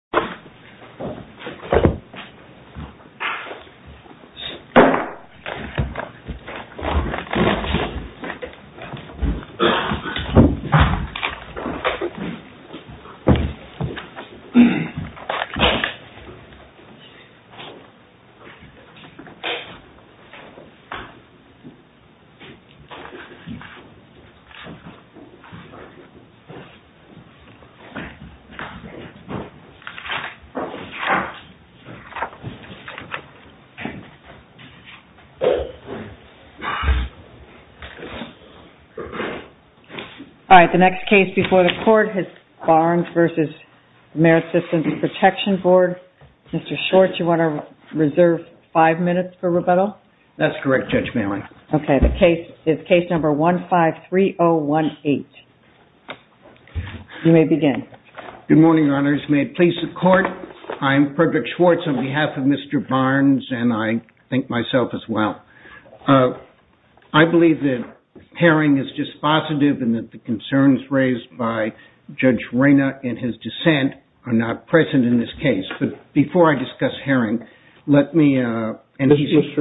MSWordDoc Word.Document.8 All right, the next case before the court is Barnes v. Merit Systems Protection Board. Mr. Short, do you want to reserve five minutes for rebuttal? That's correct, Judge Maloney. Okay, the case is case number 153018. You may begin. Good morning, Your Honors. May it please the court, I'm Frederick Schwartz on behalf of Mr. Barnes and I think myself as well. I believe that Herring is just positive and that the concerns raised by Judge Rayna in his dissent are not present in this case. But before I discuss Herring, let me, and he's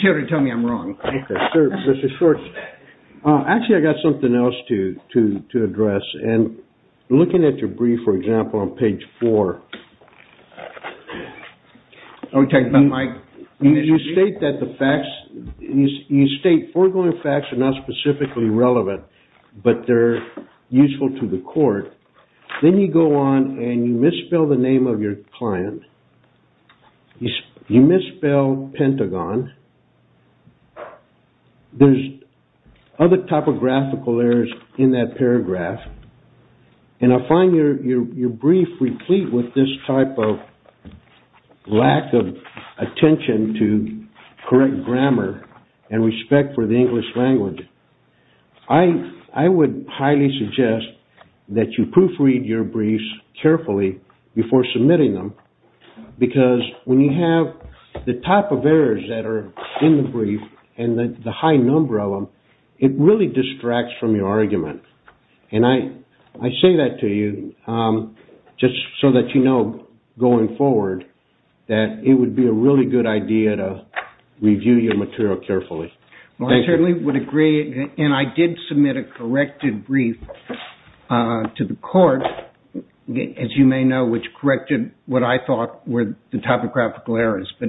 here to tell me I'm wrong. Okay, Mr. Schwartz, actually I've got something else to address. And looking at your brief, for example, on page four, you state that the facts, you state foregoing facts are not specifically relevant, but they're useful to the court. Then you go on and you misspell the name of your client. You misspell Pentagon. There's other topographical errors in that paragraph. And I find your brief replete with this type of lack of attention to correct grammar and respect for the English language. I would highly suggest that you proofread your briefs carefully before submitting them. Because when you have the type of errors that are in the brief and the high number of them, it really distracts from your argument. And I say that to you just so that you know going forward that it would be a really good idea to review your material carefully. Well, I certainly would agree, and I did submit a corrected brief to the court, as you may know, which corrected what I thought were the topographical errors. But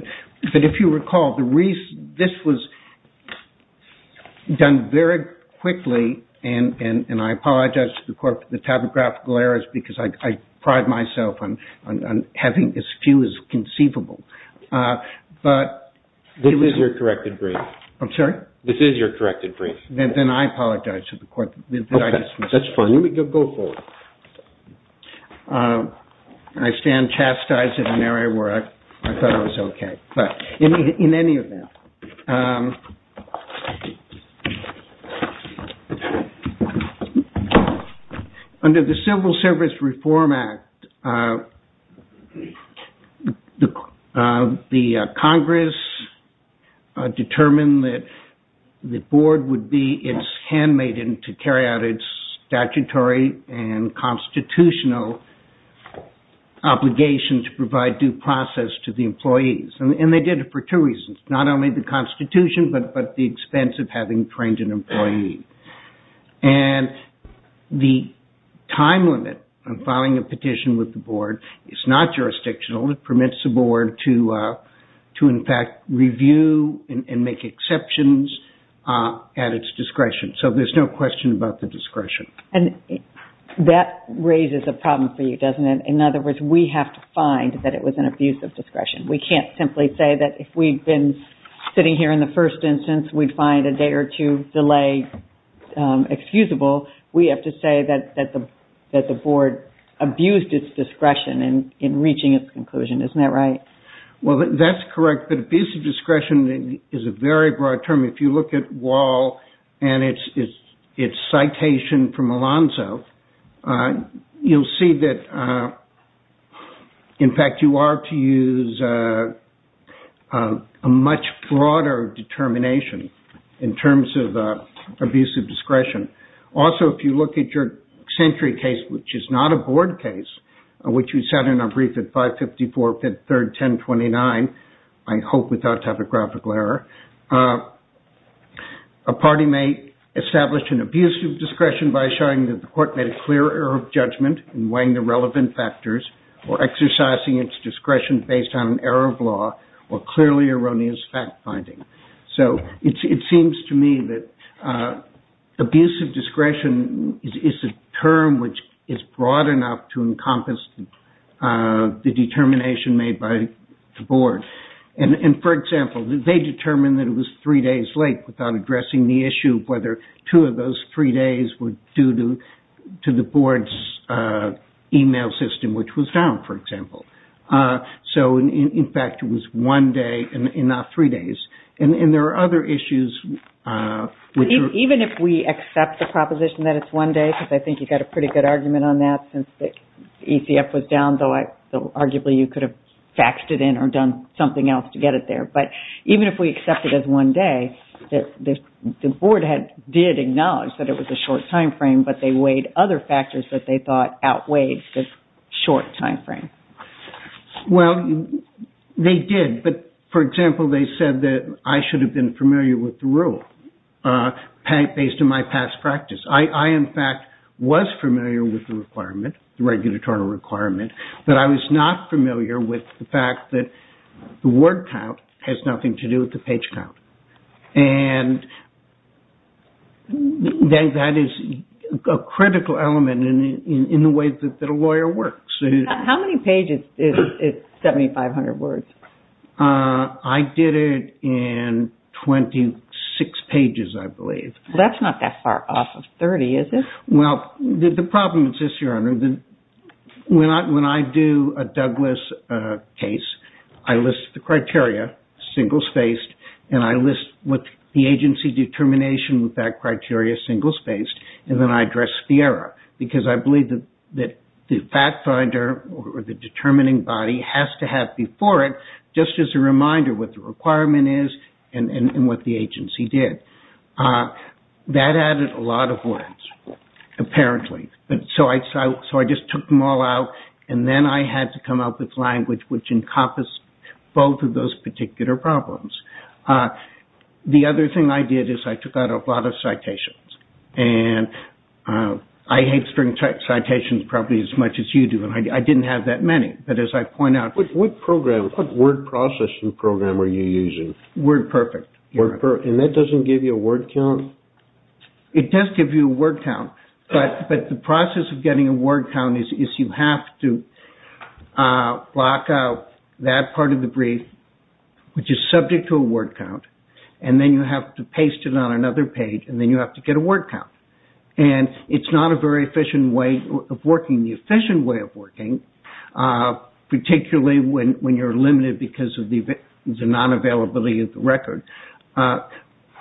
if you recall, this was done very quickly, and I apologize to the court for the topographical errors because I pride myself on having as few as conceivable. This is your corrected brief. I'm sorry? This is your corrected brief. Then I apologize to the court. Okay, that's fine. Go for it. I stand chastised in an area where I thought it was okay. In any event, under the Civil Service Reform Act, the Congress determined that the board would be its handmaiden to carry out its statutory and constitutional obligation to provide due process to the employees. And they did it for two reasons. Not only the Constitution, but the expense of having trained an employee. And the time limit on filing a petition with the board is not jurisdictional. It permits the board to, in fact, review and make exceptions at its discretion. So there's no question about the discretion. And that raises a problem for you, doesn't it? In other words, we have to find that it was an abuse of discretion. We can't simply say that if we'd been sitting here in the first instance, we'd find a day or two delay excusable. We have to say that the board abused its discretion in reaching its conclusion. Isn't that right? Well, that's correct. But abuse of discretion is a very broad term. If you look at Wahl and its citation from Alonzo, you'll see that, in fact, you are to use a much broader determination in terms of abuse of discretion. Also, if you look at your Century case, which is not a board case, which we sat in our brief at 554, 5th, 3rd, 1029, I hope without typographical error, a party may establish an abuse of discretion by showing that the court made a clear error of judgment in weighing the relevant factors or exercising its discretion based on an error of law or clearly erroneous fact-finding. It seems to me that abuse of discretion is a term which is broad enough to encompass the determination made by the board. For example, they determined that it was three days late without addressing the issue of whether two of those three days were due to the board's email system, which was down, for example. In fact, it was one day and not three days. And there are other issues. Even if we accept the proposition that it's one day, because I think you've got a pretty good argument on that since the ECF was down, though arguably you could have faxed it in or done something else to get it there. But even if we accept it as one day, the board did acknowledge that it was a short timeframe, but they weighed other factors that they thought outweighed the short timeframe. Well, they did. But, for example, they said that I should have been familiar with the rule based on my past practice. I, in fact, was familiar with the requirement, the regulatory requirement, but I was not familiar with the fact that the word count has nothing to do with the page count. And that is a critical element in the way that a lawyer works. How many pages is 7,500 words? I did it in 26 pages, I believe. That's not that far off of 30, is it? Well, the problem is this, Your Honor. When I do a Douglas case, I list the criteria, single-spaced, and I list what the agency determination with that criteria, single-spaced, and then I address FIERA. Because I believe that the fact finder or the determining body has to have before it, just as a reminder what the requirement is and what the agency did. That added a lot of length, apparently. So I just took them all out, and then I had to come up with language which encompassed both of those particular problems. The other thing I did is I took out a lot of citations. And I hate string citations probably as much as you do, and I didn't have that many. But as I point out... What word processing program are you using? WordPerfect. WordPerfect. And that doesn't give you a word count? It does give you a word count. But the process of getting a word count is you have to block out that part of the brief, which is subject to a word count, and then you have to paste it on another page, and then you have to get a word count. And it's not a very efficient way of working. Particularly when you're limited because of the non-availability of the record. The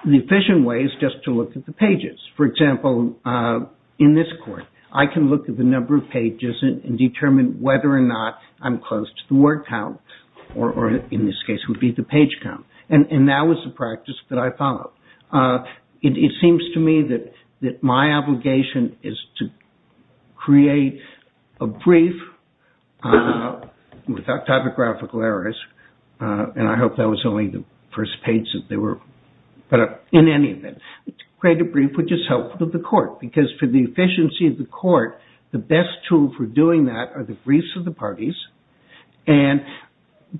efficient way is just to look at the pages. For example, in this court, I can look at the number of pages and determine whether or not I'm close to the word count, or in this case would be the page count. And that was the practice that I followed. It seems to me that my obligation is to create a brief without typographical errors, and I hope that was only the first page that they were put up. In any event, create a brief which is helpful to the court, because for the efficiency of the court, the best tool for doing that are the briefs of the parties, and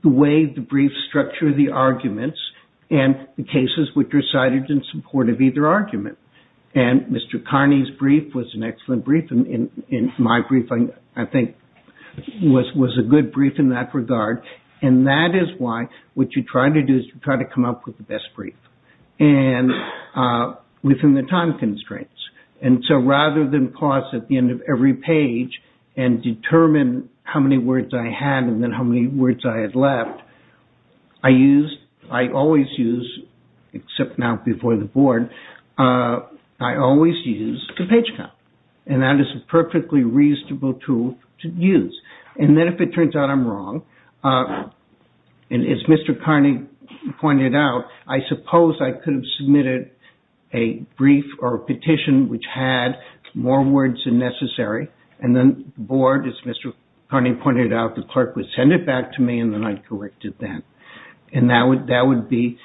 the way the briefs structure the arguments, and the cases which are cited in support of either argument. And Mr. Carney's brief was an excellent brief, and my brief, I think, was a good brief in that regard. And that is why what you try to do is you try to come up with the best brief, and within the time constraints. And so rather than pause at the end of every page and determine how many words I had and then how many words I had left, I always use, except now before the board, I always use the page count. And that is a perfectly reasonable tool to use. And then if it turns out I'm wrong, and as Mr. Carney pointed out, I suppose I could have submitted a brief or a petition which had more words than necessary, and then the board, as Mr. Carney pointed out, the clerk would send it back to me and then I'd correct it then. And that would be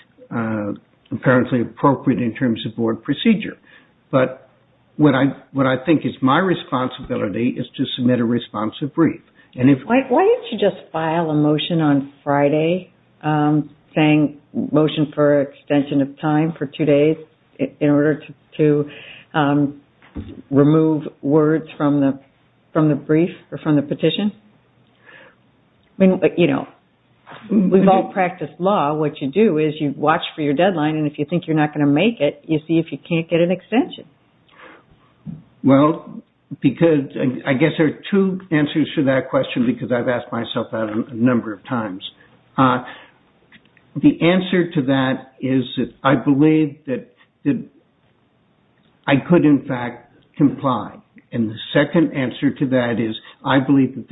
apparently appropriate in terms of board procedure. But what I think is my responsibility is to submit a responsive brief. Why don't you just file a motion on Friday saying motion for extension of time for two days in order to remove words from the brief or from the petition? I mean, you know, we've all practiced law. What you do is you watch for your deadline, and if you think you're not going to make it, you see if you can't get an extension. Well, because I guess there are two answers to that question because I've asked myself that a number of times. The answer to that is that I believe that I could, in fact, comply. And the second answer to that is I believe that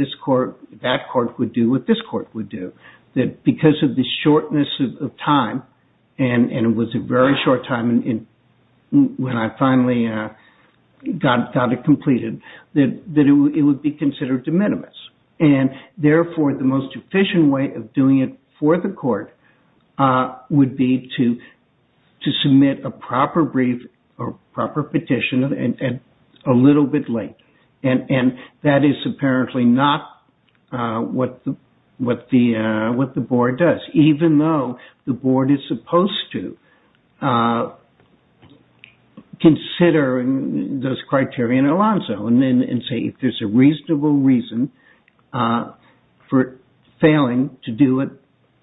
that court would do what this court would do, that because of the shortness of time, and it was a very short time when I finally got it completed, that it would be considered de minimis. And therefore, the most efficient way of doing it for the court would be to submit a proper brief or proper petition a little bit late. And that is apparently not what the board does, even though the board is supposed to consider those criteria in Alonzo and say if there's a reasonable reason for failing to do it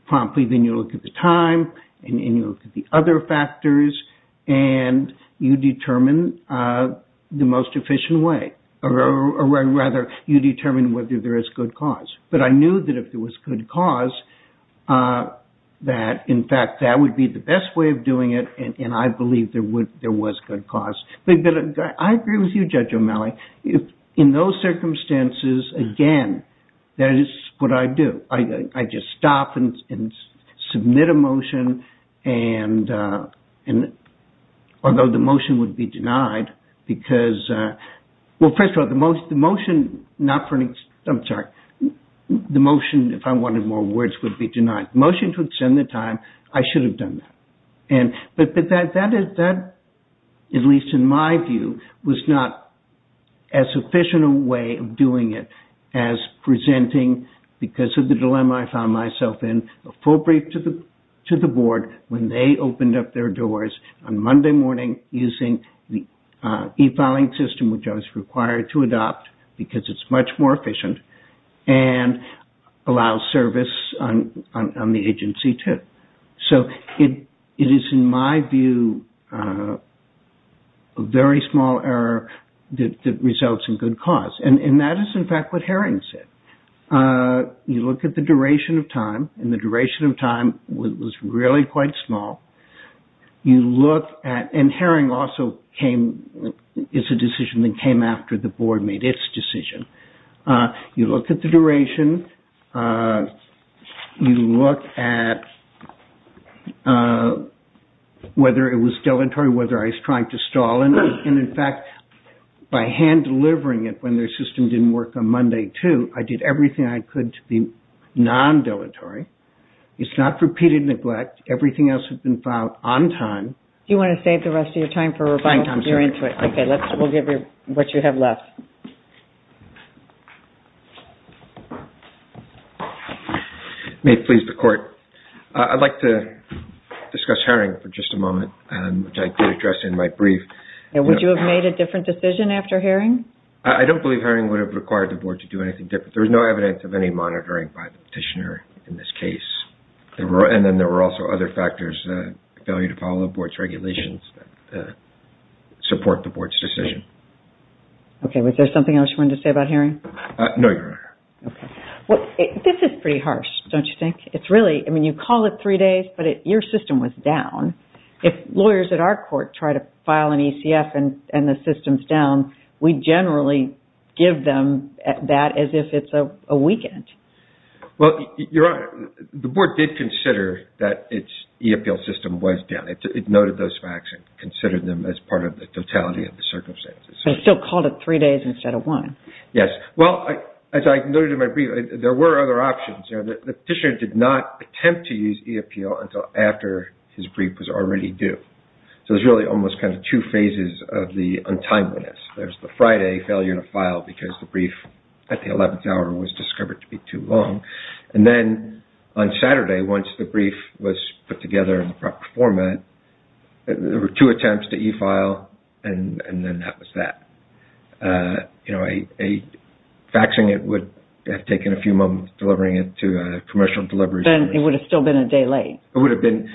promptly, then you look at the time, and you look at the other factors, and you determine the most efficient way. Or rather, you determine whether there is good cause. But I knew that if there was good cause that, in fact, that would be the best way of doing it, and I believed there was good cause. But I agree with you, Judge O'Malley. In those circumstances, again, that is what I do. I just stop and submit a motion, although the motion would be denied. Because, well, first of all, the motion, if I wanted more words, would be denied. The motion to extend the time, I should have done that. But that, at least in my view, was not as efficient a way of doing it as presenting, because of the dilemma I found myself in, a full brief to the board when they opened up their doors on Monday morning using the e-filing system, which I was required to adopt, because it's much more efficient, and allow service on the agency, too. So it is, in my view, a very small error that results in good cause. And that is, in fact, what Herring said. You look at the duration of time, and the duration of time was really quite small. You look at, and Herring also came, it's a decision that came after the board made its decision. You look at the duration. You look at whether it was dilatory, whether I was trying to stall. And, in fact, by hand-delivering it when their system didn't work on Monday, too, I did everything I could to be non-dilatory. It's not repeated neglect. Everything else had been filed on time. Do you want to save the rest of your time for rebuttal? You're into it. Okay, we'll give you what you have left. May it please the Court. I'd like to discuss Herring for just a moment, which I did address in my brief. Would you have made a different decision after Herring? I don't believe Herring would have required the board to do anything different. There was no evidence of any monitoring by the petitioner in this case. And then there were also other factors, failure to follow the board's regulations, that support the board's decision. Okay, was there something else you wanted to say about Herring? No, Your Honor. This is pretty harsh, don't you think? I mean, you call it three days, but your system was down. If lawyers at our court try to file an ECF and the system's down, we generally give them that as if it's a weekend. Well, Your Honor, the board did consider that its e-appeal system was down. It noted those facts and considered them as part of the totality of the circumstances. They still called it three days instead of one. Yes. Well, as I noted in my brief, there were other options. The petitioner did not attempt to use e-appeal until after his brief was already due. So there's really almost kind of two phases of the untimeliness. There's the Friday failure to file because the brief at the 11th hour was discovered to be too long. And then on Saturday, once the brief was put together in the proper format, there were two attempts to e-file, and then that was that. You know, faxing it would have taken a few moments, delivering it to a commercial delivery service. Then it would have still been a day late. It would have been.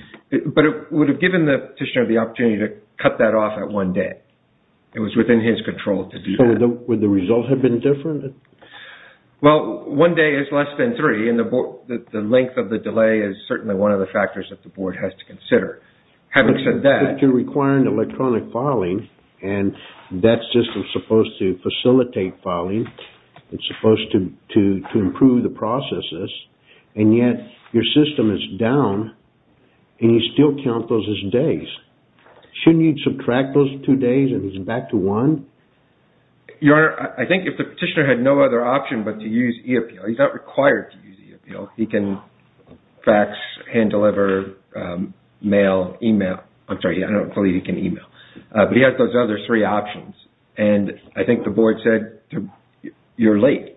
But it would have given the petitioner the opportunity to cut that off at one day. It was within his control to do that. So would the results have been different? Well, one day is less than three, and the length of the delay is certainly one of the factors that the board has to consider. But you're requiring electronic filing, and that system is supposed to facilitate filing. It's supposed to improve the processes, and yet your system is down, and you still count those as days. Shouldn't you subtract those two days and use it back to one? Your Honor, I think if the petitioner had no other option but to use e-appeal, he's not required to use e-appeal. He can fax, hand deliver, mail, e-mail. I'm sorry, I don't know if he can e-mail. But he has those other three options, and I think the board said you're late.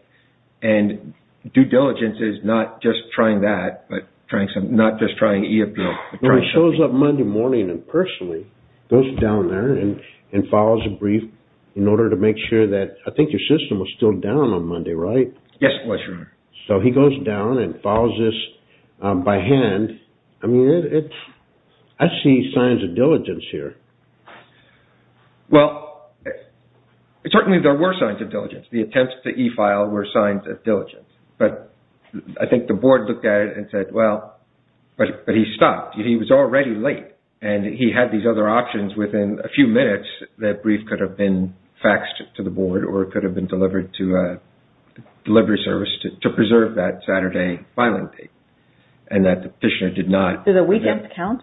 And due diligence is not just trying that, but not just trying e-appeal. He shows up Monday morning and personally goes down there and files a brief in order to make sure that I think your system was still down on Monday, right? Yes, it was, Your Honor. So he goes down and files this by hand. I mean, I see signs of diligence here. Well, certainly there were signs of diligence. The attempts to e-file were signs of diligence. But I think the board looked at it and said, well, but he stopped. He was already late. And he had these other options within a few minutes that brief could have been faxed to the board or could have been delivered to a delivery service to preserve that Saturday filing date. And that the petitioner did not. Did the weekend count?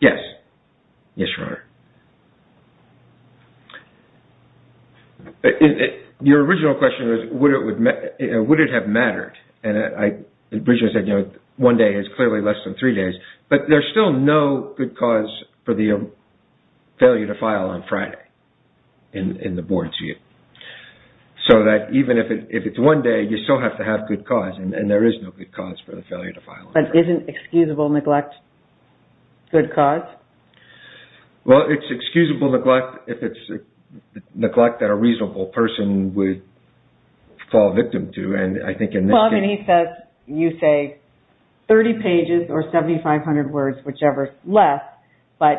Yes. Yes, Your Honor. Your original question was would it have mattered? And Bridget said, you know, one day is clearly less than three days. But there's still no good cause for the failure to file on Friday in the board's view. So that even if it's one day, you still have to have good cause. And there is no good cause for the failure to file. But isn't excusable neglect good cause? Well, it's excusable neglect if it's neglect that a reasonable person would fall victim to. Well, I mean, he says you say 30 pages or 7,500 words, whichever is less. But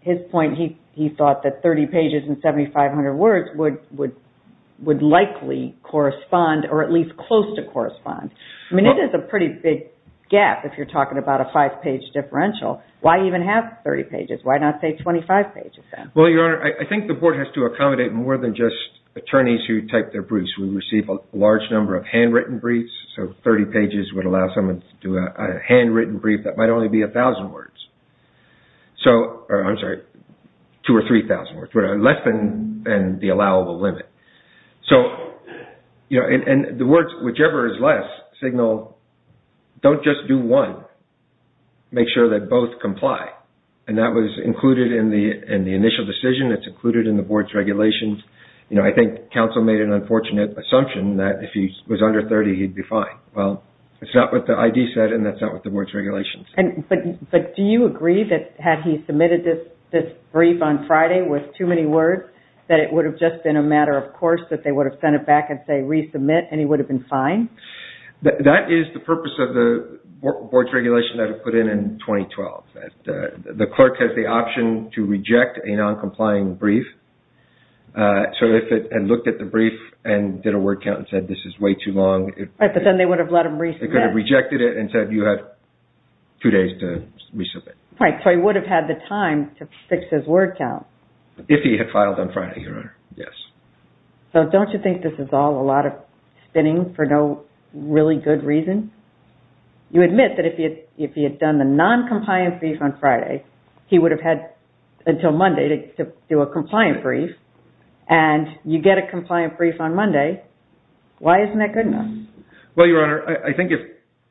his point, he thought that 30 pages and 7,500 words would likely correspond or at least close to correspond. I mean, it is a pretty big gap if you're talking about a five-page differential. Why even have 30 pages? Why not say 25 pages then? Well, Your Honor, I think the board has to accommodate more than just attorneys who type their briefs. We receive a large number of handwritten briefs. So 30 pages would allow someone to do a handwritten brief that might only be a thousand words. So, I'm sorry, two or three thousand words. We're less than the allowable limit. So, you know, and the words, whichever is less, signal don't just do one. Make sure that both comply. And that was included in the initial decision. It's included in the board's regulations. You know, I think counsel made an unfortunate assumption that if he was under 30, he'd be fine. Well, it's not what the ID said and that's not what the board's regulations said. But do you agree that had he submitted this brief on Friday with too many words, that it would have just been a matter of course that they would have sent it back and say resubmit and he would have been fine? That is the purpose of the board's regulation that was put in in 2012. The clerk has the option to reject a noncompliant brief. So if it had looked at the brief and did a word count and said this is way too long. Right, but then they would have let him resubmit. They could have rejected it and said you have two days to resubmit. Right, so he would have had the time to fix his word count. If he had filed on Friday, Your Honor, yes. So don't you think this is all a lot of spinning for no really good reason? You admit that if he had done the noncompliant brief on Friday, he would have had until Monday to do a compliant brief. And you get a compliant brief on Monday. Why isn't that good enough? Well, Your Honor, I think if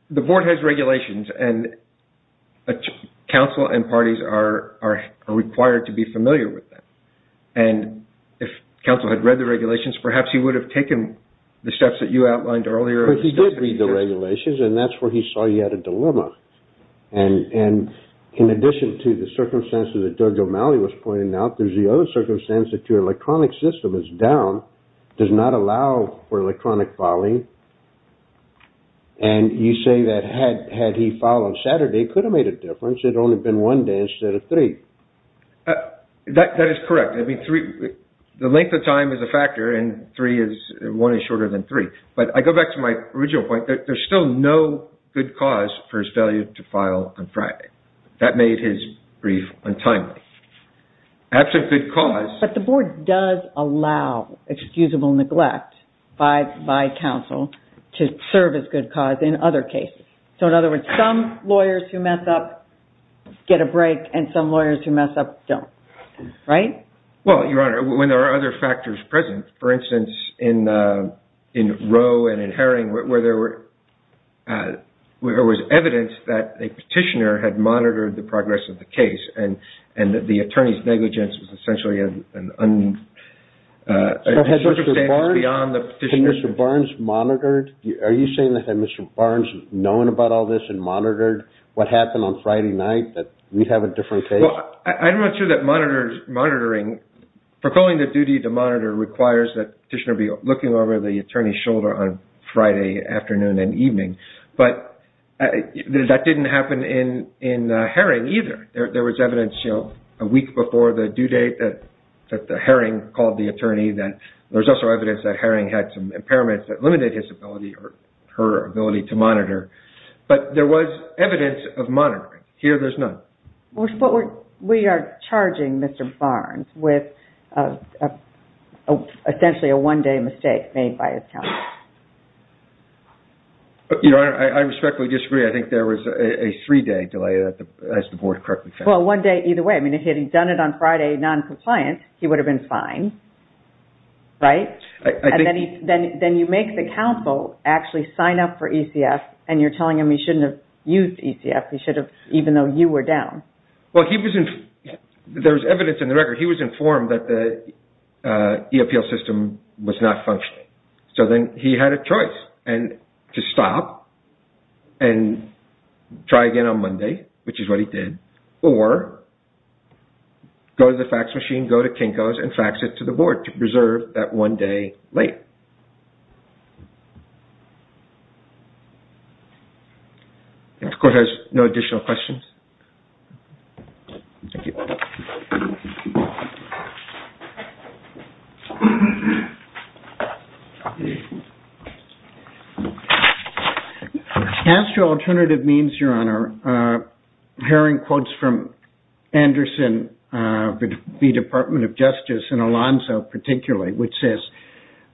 the board has regulations and counsel and parties are required to be familiar with them. And if counsel had read the regulations, perhaps he would have taken the steps that you outlined earlier. But he did read the regulations and that's where he saw he had a dilemma. And in addition to the circumstances that Doug O'Malley was pointing out, there's the other circumstance that your electronic system is down, does not allow for electronic filing. And you say that had he filed on Saturday, it could have made a difference. It would have only been one day instead of three. That is correct. The length of time is a factor and one is shorter than three. But I go back to my original point. There's still no good cause for his failure to file on Friday. That made his brief untimely. Absent good cause. But the board does allow excusable neglect by counsel to serve as good cause in other cases. So in other words, some lawyers who mess up get a break and some lawyers who mess up don't. Right? Well, Your Honor, when there are other factors present, for instance, in Roe and in Herring, where there was evidence that a petitioner had monitored the progress of the case and that the attorney's negligence was essentially an understatement beyond the petitioner. Had Mr. Barnes monitored? Are you saying that had Mr. Barnes known about all this and monitored what happened on Friday night, that we'd have a different case? Well, I'm not sure that monitoring, proclaiming the duty to monitor requires that petitioner be looking over the attorney's shoulder on Friday afternoon and evening. But that didn't happen in Herring either. There was evidence a week before the due date that Herring called the attorney. There's also evidence that Herring had some impairments that limited his ability or her ability to monitor. But there was evidence of monitoring. Here, there's none. But we are charging Mr. Barnes with essentially a one-day mistake made by his counsel. Your Honor, I respectfully disagree. I think there was a three-day delay, as the Board correctly thinks. Well, one day either way. I mean, if he had done it on Friday noncompliant, he would have been fine. Right? And then you make the counsel actually sign up for ECF and you're telling him he shouldn't have used ECF. He should have, even though you were down. Well, there was evidence in the record. He was informed that the e-appeal system was not functioning. So then he had a choice to stop and try again on Monday, which is what he did, or go to the fax machine, go to Kinko's, and fax it to the Board to preserve that one day late. Thank you. This Court has no additional questions. Thank you. Hearing quotes from Anderson, the Department of Justice, and Alonzo particularly, which says,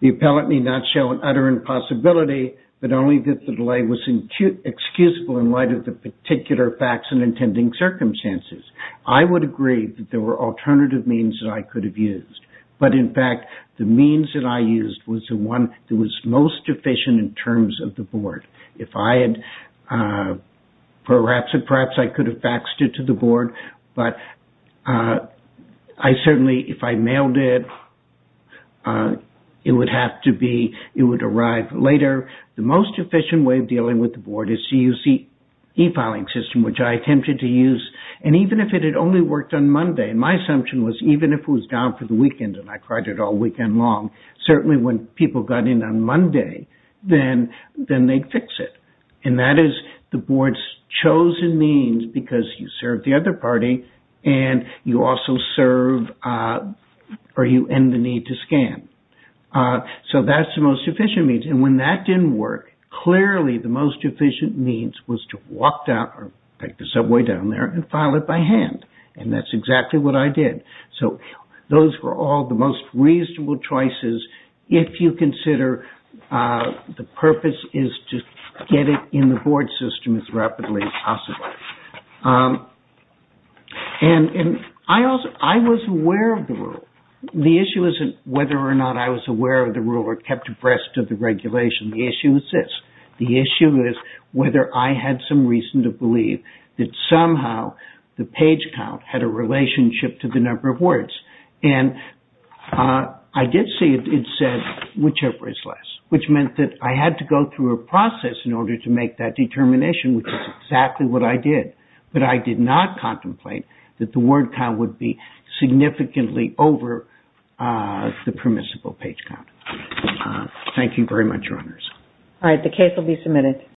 the appellate need not show an utter impossibility, but only that the delay was excusable in light of the particular facts and intending circumstances. I would agree that there were alternative means that I could have used. But in fact, the means that I used was the one that was most efficient in terms of the Board. If I had perhaps, perhaps I could have faxed it to the Board. But I certainly, if I mailed it, it would have to be, it would arrive later. The most efficient way of dealing with the Board is to use the e-filing system, which I attempted to use. And even if it had only worked on Monday, my assumption was even if it was down for the weekend, and I tried it all weekend long, certainly when people got in on Monday, then they'd fix it. And that is the Board's chosen means because you serve the other party, and you also serve, or you end the need to scan. So that's the most efficient means. And when that didn't work, clearly the most efficient means was to walk down, or take the subway down there, and file it by hand. And that's exactly what I did. So those were all the most reasonable choices, if you consider the purpose is to get it in the Board system as rapidly as possible. And I was aware of the rule. The issue isn't whether or not I was aware of the rule, or kept abreast of the regulation. The issue is this. The issue is whether I had some reason to believe that somehow the page count had a relationship to the number of words. And I did see it said, whichever is less, which meant that I had to go through a process in order to make that determination, which is exactly what I did. But I did not contemplate that the word count would be significantly over the permissible page count. Thank you very much, Your Honors. All right, the case will be submitted.